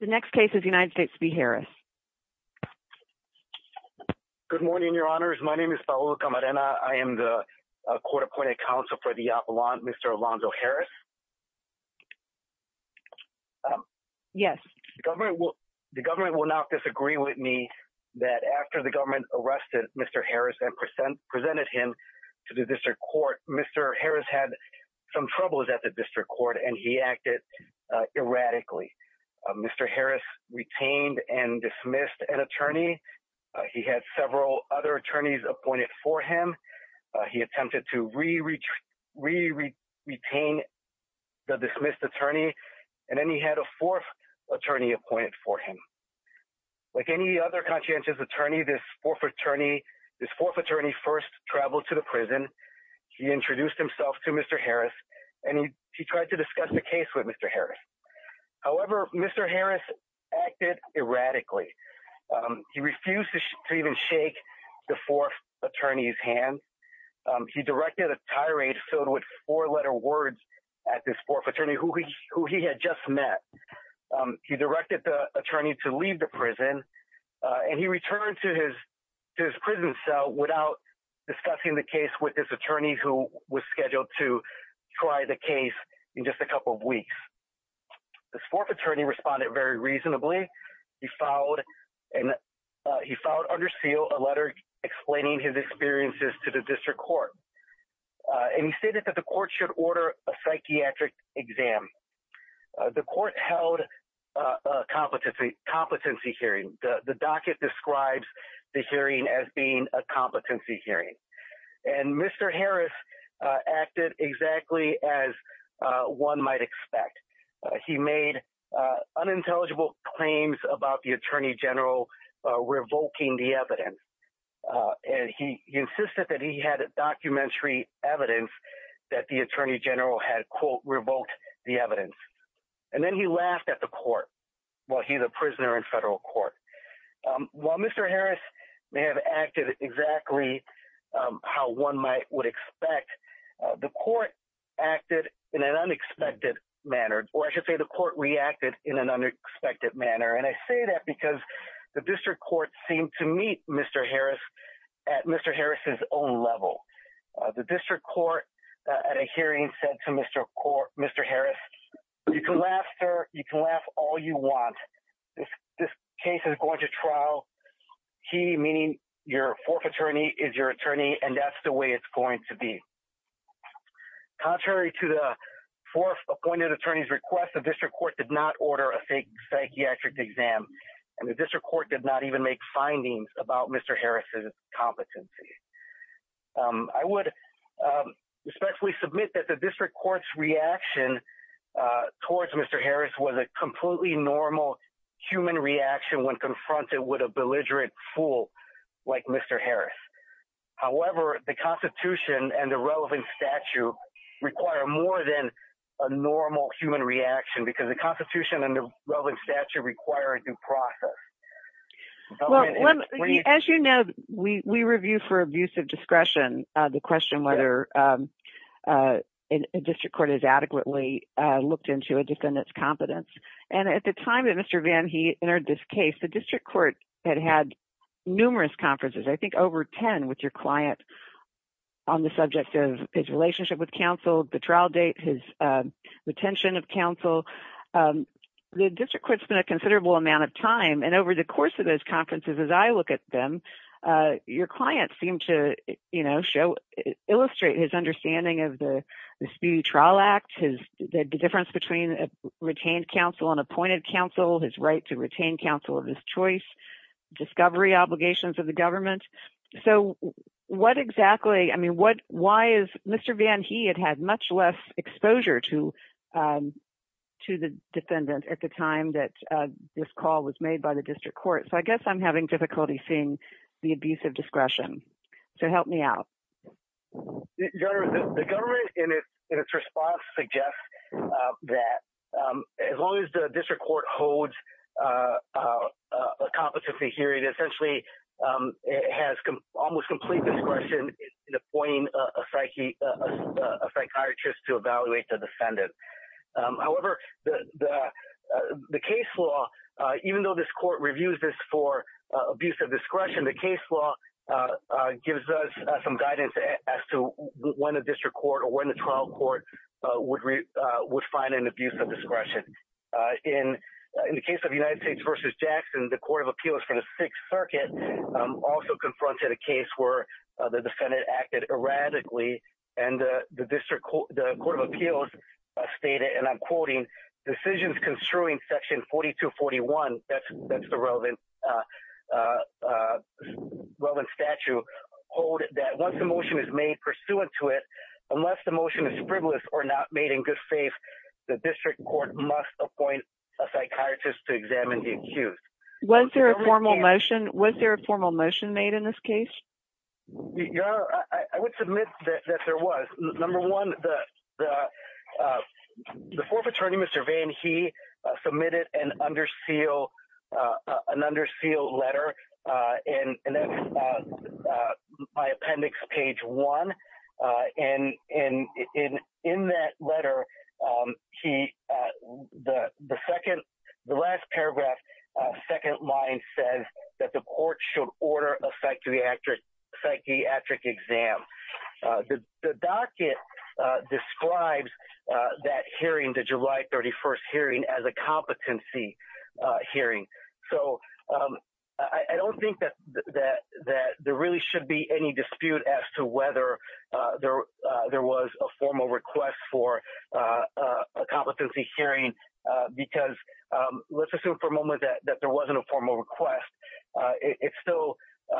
The next case is United States v. Harris. Good morning, Your Honors. My name is Paolo Camarena. I am the Court Appointed Counsel for the Apollon, Mr. Alonzo Harris. Yes. The government will not disagree with me that after the government arrested Mr. Harris and presented him to the district court, Mr. Harris had some troubles at the district court and he acted erratically. Mr. Harris retained and dismissed an attorney. He had several other attorneys appointed for him. He attempted to re-retain the dismissed attorney and then he had a fourth attorney appointed for him. Like any other conscientious attorney, this fourth attorney first traveled to the prison. He introduced himself to Mr. Harris and he tried to convince Mr. Harris. However, Mr. Harris acted erratically. He refused to even shake the fourth attorney's hand. He directed a tirade filled with four-letter words at this fourth attorney who he had just met. He directed the attorney to leave the prison and he returned to his prison cell without discussing the case with this attorney who was scheduled to try the case in just a couple of weeks. This fourth attorney responded very reasonably. He followed under seal a letter explaining his experiences to the district court and he stated that the court should order a psychiatric exam. The court held a competency hearing. The docket describes the hearing as being a competency hearing and Mr. Harris acted exactly as one might expect. He made unintelligible claims about the attorney general revoking the evidence and he insisted that he had a documentary evidence that the attorney general had quote revoked the evidence and then he laughed at the court while he's a prisoner in federal court. While Mr. Harris may have acted exactly how one might would expect, the court acted in an unexpected manner or I should say the court reacted in an unexpected manner and I say that because the district court seemed to meet Mr. Harris at Mr. Harris's own level. The district court at a hearing said to Mr. Harris, you can laugh all you want. This case is going to trial. He, meaning your fourth attorney, is your attorney and that's the way it's going to be. Contrary to the fourth appointed attorney's request, the district court did not order a psychiatric exam and the district court did not even make findings about Mr. Harris's competency. I would respectfully submit that the district court's reaction towards Mr. Harris was a completely normal human reaction when confronted with a belligerent fool like Mr. Harris. However, the Constitution and the relevant statute require more than a normal human reaction because the Constitution and the relevant statute require a due process. As you know, we district court has adequately looked into a defendant's competence and at the time that Mr. Van Heet entered this case, the district court had had numerous conferences. I think over ten with your client on the subject of his relationship with counsel, the trial date, his retention of counsel. The district court spent a considerable amount of time and over the course of those conferences, as I look at them, your client seemed to, you know, illustrate his understanding of the Speedy Trial Act, the difference between retained counsel and appointed counsel, his right to retain counsel of his choice, discovery obligations of the government. So what exactly, I mean, why is Mr. Van Heet had had much less exposure to the defendant at the time that this call was made by the district court? So I guess I'm having difficulty seeing the discretion. So help me out. Your Honor, the government, in its response, suggests that as long as the district court holds a competency hearing, essentially it has almost complete discretion in appointing a psychiatrist to evaluate the defendant. However, the case law, even though this case law gives us some guidance as to when a district court or when the trial court would find an abuse of discretion. In the case of United States v. Jackson, the Court of Appeals for the Sixth Circuit also confronted a case where the defendant acted erratically and the Court of Appeals stated, and I'm quoting, decisions construing section 4241, that's the relevant statute, hold that once the motion is made pursuant to it, unless the motion is frivolous or not made in good faith, the district court must appoint a psychiatrist to examine the accused. Was there a formal motion made in this case? Your Honor, I would submit that there was. Number one, the fourth attorney, Mr. Van Heet, submitted an under seal letter in my appendix, page one, and in that letter, the last paragraph, second line says that the court should order a psychiatric exam. The docket describes that hearing, the July 31st hearing, as a competency hearing. So I don't think that there really should be any dispute as to whether there was a formal request for a competency hearing because, let's assume for a moment that there wasn't a formal request, it's still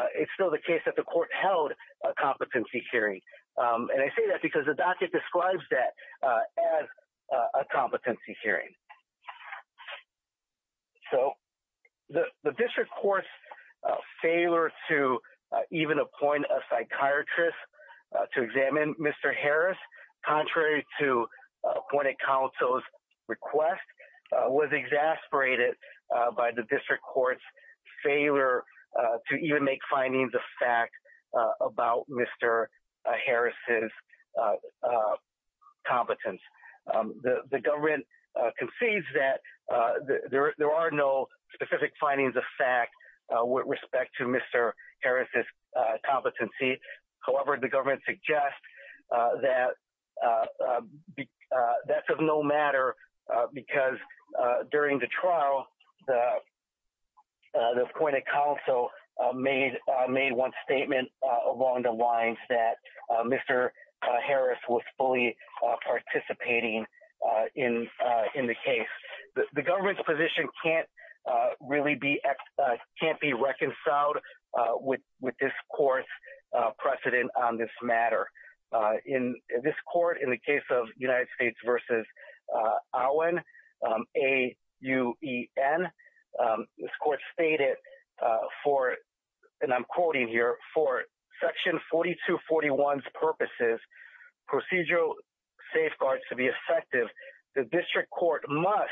the case that the court held a competency hearing. And I say that because the docket describes that as a competency hearing. So the district court's failure to even appoint a psychiatrist to examine Mr. Harris, contrary to appointed counsel's request, was exasperated by the Harris's competence. The government concedes that there are no specific findings of fact with respect to Mr. Harris's competency. However, the government suggests that that's of no matter because during the trial, the Mr. Harris was fully participating in the case. The government's position can't really be, can't be reconciled with this court's precedent on this matter. In this court, in the case of United States v. Owen, A-U-E-N, this is a case where the district court has a right to make a decision on one's purposes, procedural safeguards to be effective. The district court must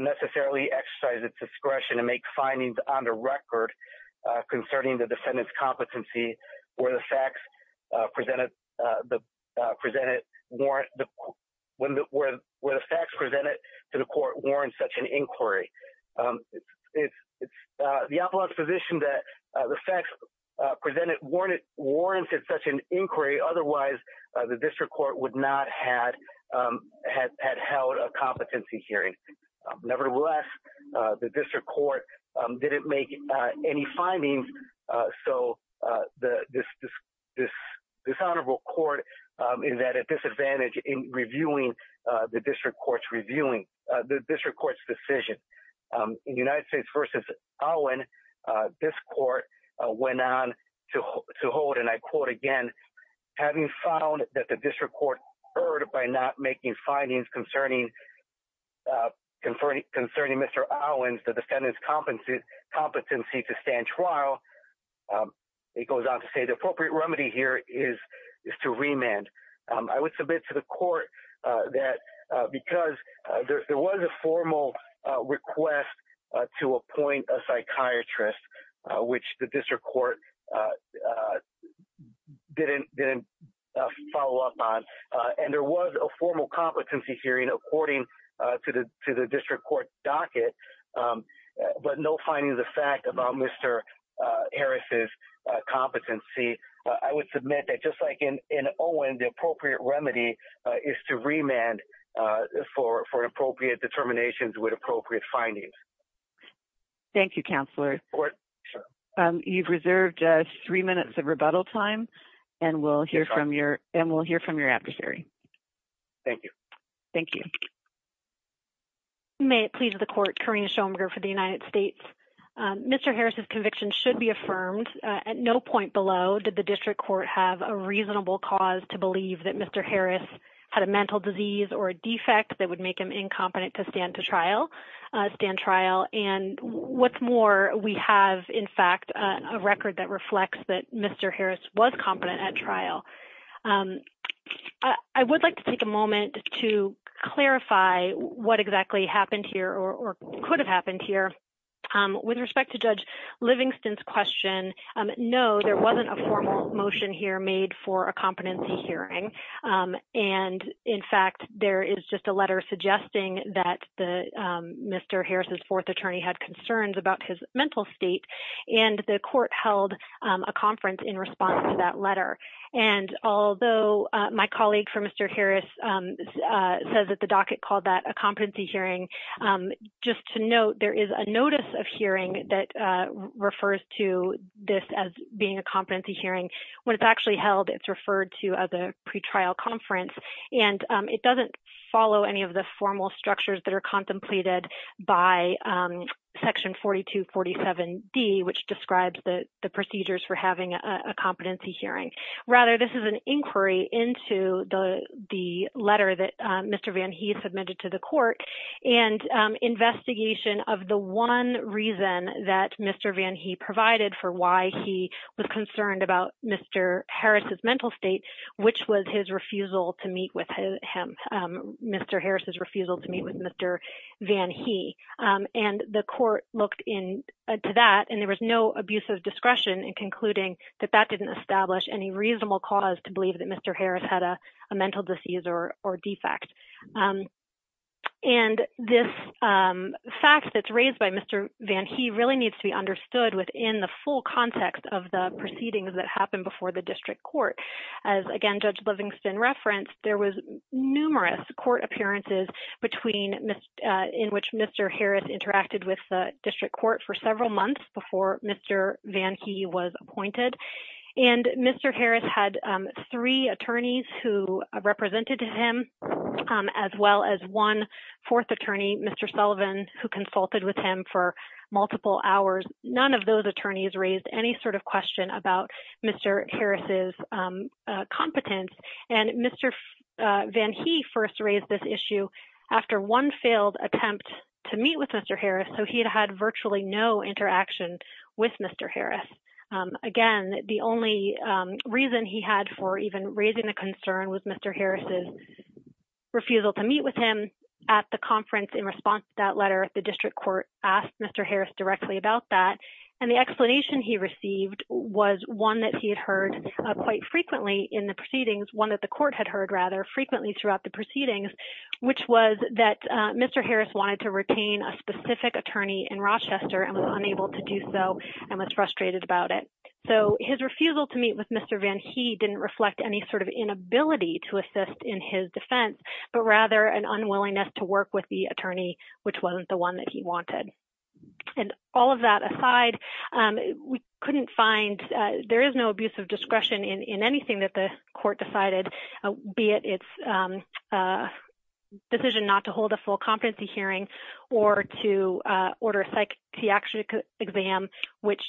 necessarily exercise its discretion to make findings on the record concerning the defendant's competency where the facts presented to the court warrant such an inquiry. The appellant's position that the facts presented warranted such an inquiry. Otherwise, the district court would not have held a competency hearing. Nevertheless, the district court didn't make any findings. So this honorable court is at a disadvantage in reviewing the district court's reviewing, the district court's decision. In United States v. Owen, this court went on to hold, and I quote again, having found that the district court erred by not making findings concerning Mr. Owens, the defendant's competency to stand trial, it goes on to say the appropriate remedy here is to remand. I would submit to the court that because there was a formal request to which the district court didn't follow up on, and there was a formal competency hearing according to the district court docket, but no finding of the fact about Mr. Harris's competency, I would submit that just like in Owen, the appropriate remedy is to remand for appropriate determinations with appropriate findings. Thank you, Counselor. You've reserved three minutes of rebuttal time, and we'll hear from your adversary. Thank you. Thank you. May it please the court, Karina Schomberger for the United States. Mr. Harris's conviction should be affirmed. At no point below did the district court have a reasonable cause to believe that Mr. Harris had a mental disease or a And what's more, we have, in fact, a record that reflects that Mr. Harris was competent at trial. I would like to take a moment to clarify what exactly happened here or could have happened here. With respect to Judge Livingston's question, no, there wasn't a formal motion here made for a competency hearing, and in just a letter suggesting that Mr. Harris's fourth attorney had concerns about his mental state, and the court held a conference in response to that letter. And although my colleague for Mr. Harris says that the docket called that a competency hearing, just to note, there is a notice of hearing that refers to this as being a competency hearing. When it's actually held, it's referred to as a follow any of the formal structures that are contemplated by section 4247 D, which describes the procedures for having a competency hearing. Rather, this is an inquiry into the the letter that Mr. Van he submitted to the court and investigation of the one reason that Mr. Van he provided for why he was concerned about Mr. Harris's mental state, which was his refusal to meet with him, Mr. Harris's refusal to meet with Mr. Van he, and the court looked in to that and there was no abuse of discretion in concluding that that didn't establish any reasonable cause to believe that Mr. Harris had a mental disease or defect. And this fact that's raised by Mr. Van he really needs to be understood within the full context of the proceedings that happened before the district court. As again Judge Livingston referenced, there was numerous court appearances between in which Mr. Harris interacted with the district court for several months before Mr. Van he was appointed. And Mr. Harris had three attorneys who represented him, as well as one fourth attorney, Mr. Sullivan, who consulted with him for multiple hours. None of those attorneys raised any sort of question about Mr. Harris's competence. And Mr. Van he first raised this issue after one failed attempt to meet with Mr. Harris, so he had had virtually no interaction with Mr. Harris. Again, the only reason he had for even raising a concern was Mr. Harris's refusal to meet with him at the conference in response to that letter at the district court asked Mr. Harris directly about that. And the explanation he received was one that he had heard quite frequently in the proceedings, one that the court had heard rather frequently throughout the proceedings, which was that Mr. Harris wanted to retain a specific attorney in Rochester and was unable to do so and was frustrated about it. So his refusal to meet with Mr. Van he didn't reflect any sort of inability to assist in his defense, but rather an unwillingness to work with the attorney which wasn't the one that he wanted. And all of that aside, we couldn't find, there is no abuse of discretion in anything that the court decided, be it its decision not to hold a full competency hearing or to order a psychiatric exam, which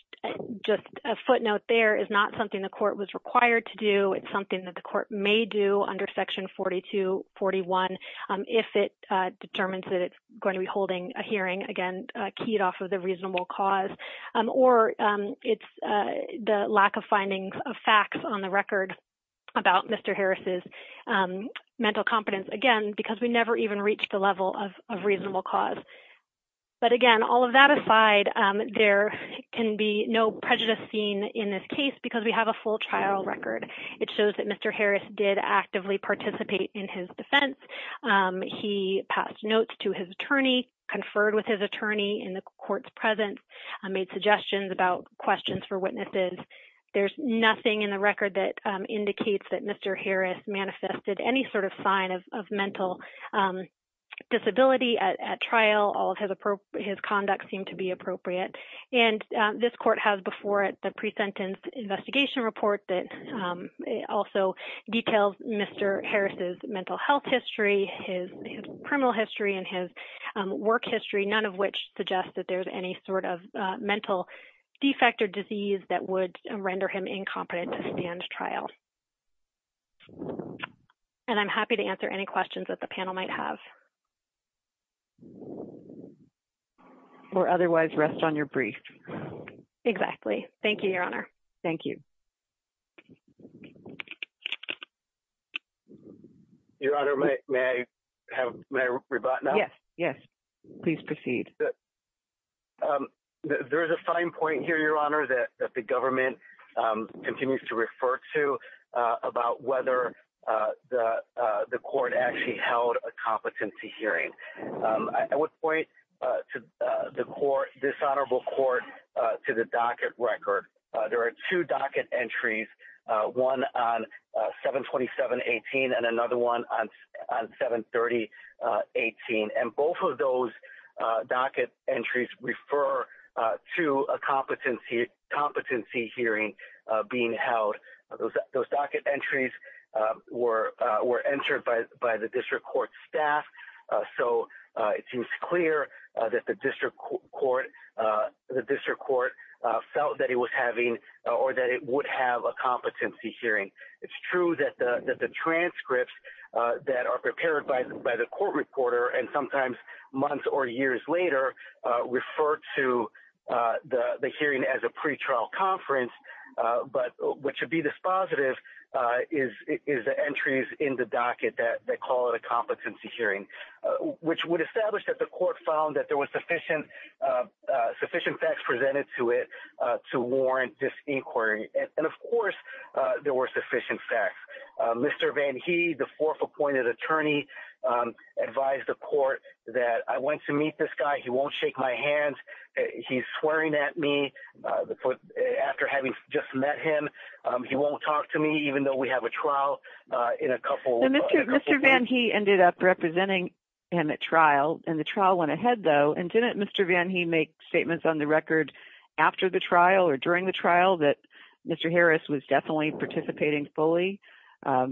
just a footnote there is not something the court was required to do. It's something that the court may do under section 4241 if it determines that it's going to be hearing, again, keyed off of the reasonable cause, or it's the lack of findings of facts on the record about Mr. Harris's mental competence, again, because we never even reached the level of reasonable cause. But again, all of that aside, there can be no prejudice seen in this case because we have a full trial record. It shows that Mr. Harris did actively participate in his defense. He passed notes to his attorney, conferred with his attorney in the court's presence, made suggestions about questions for witnesses. There's nothing in the record that indicates that Mr. Harris manifested any sort of sign of mental disability at trial. All of his conduct seemed to be appropriate. And this court has before it the pre-sentence investigation report that also details Mr. Harris's mental health history, his criminal history, and his work history, none of which suggests that there's any sort of mental defect or disease that would render him incompetent to stand trial. And I'm happy to answer any questions that the panel might have. Or otherwise rest on your brief. Exactly. Thank you, Your Honor. Thank you. Your Honor, may I have my rebuttal? Yes, yes. Please proceed. There is a fine point here, Your Honor, that the government continues to refer to about whether the court actually held a competency hearing. I would point to the court, this honorable court, to the docket record. There are two docket entries, one on 727-18 and another one on 730-18. And both of those docket entries refer to a competency hearing being held. Those docket entries were entered by the district court staff, so it seems clear that the district court felt that he was having or that it would have a competency hearing. It's true that the transcripts that are prepared by the court reporter and sometimes months or years later refer to the hearing as a pretrial conference, but what should be dispositive is the entries in the docket that call it a competency hearing, which would establish that the court found that there was sufficient facts presented to it to warrant this inquiry. And of course there were sufficient facts. Mr. Van He, the fourth appointed attorney, advised the court that I went to meet this guy, he won't shake my hand, he's swearing at me after having just met him, he won't talk to me even though we have a trial. Mr. Van He ended up representing him at trial and the trial went ahead though and didn't Mr. Van He make statements on the record after the trial or during the trial that Mr. Harris was definitely participating fully, that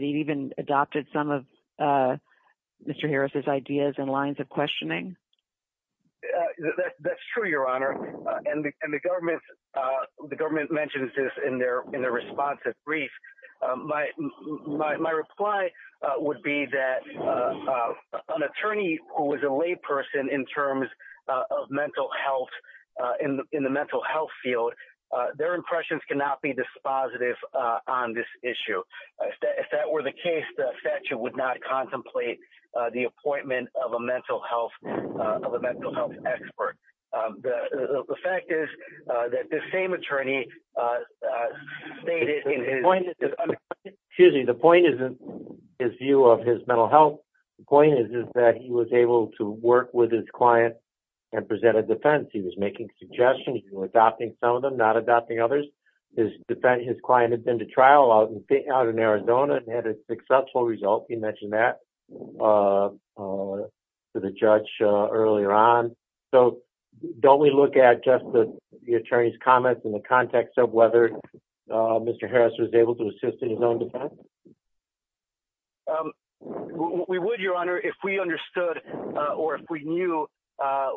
he'd even adopted some of Mr. Harris's ideas and lines of questioning? That's true, Your Honor, and the government mentions this in their responsive brief. My reply would be that an attorney who was a layperson in terms of mental health, in the mental health field, their impressions cannot be dispositive on this issue. If that were the case, the statute would not contemplate the appointment of a mental health expert. The fact is that the same attorney stated in his view of his mental health point is that he was able to work with his client and present a defense. He was making suggestions, he was adopting some of them, not adopting others. His client had been to trial out in Arizona and had a subtle result, he mentioned that to the judge earlier on. So don't we look at just the attorney's comments in the context of whether Mr. Harris was able to assist in his own defense? We would, Your Honor, if we understood or if we knew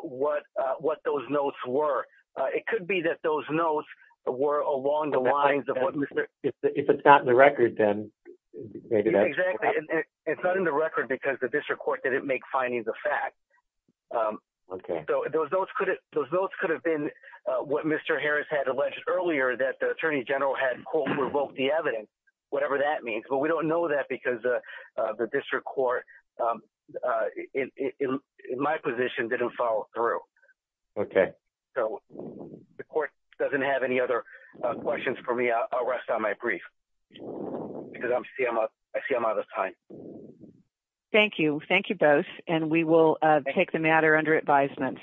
what what those notes were. It could be that those notes were along the lines of what Mr. Harris said. If it's not in the record, then maybe that's... Yeah, exactly. It's not in the record because the district court didn't make findings of fact. Okay. So those notes could have been what Mr. Harris had alleged earlier, that the attorney general had quote revoked the evidence, whatever that means. But we don't know that because the district court, in my position, didn't follow through. Okay. So the court doesn't have any other questions for me. I'll rest on my brief because I see I'm out of time. Thank you. Thank you both and we will take the matter under advisement.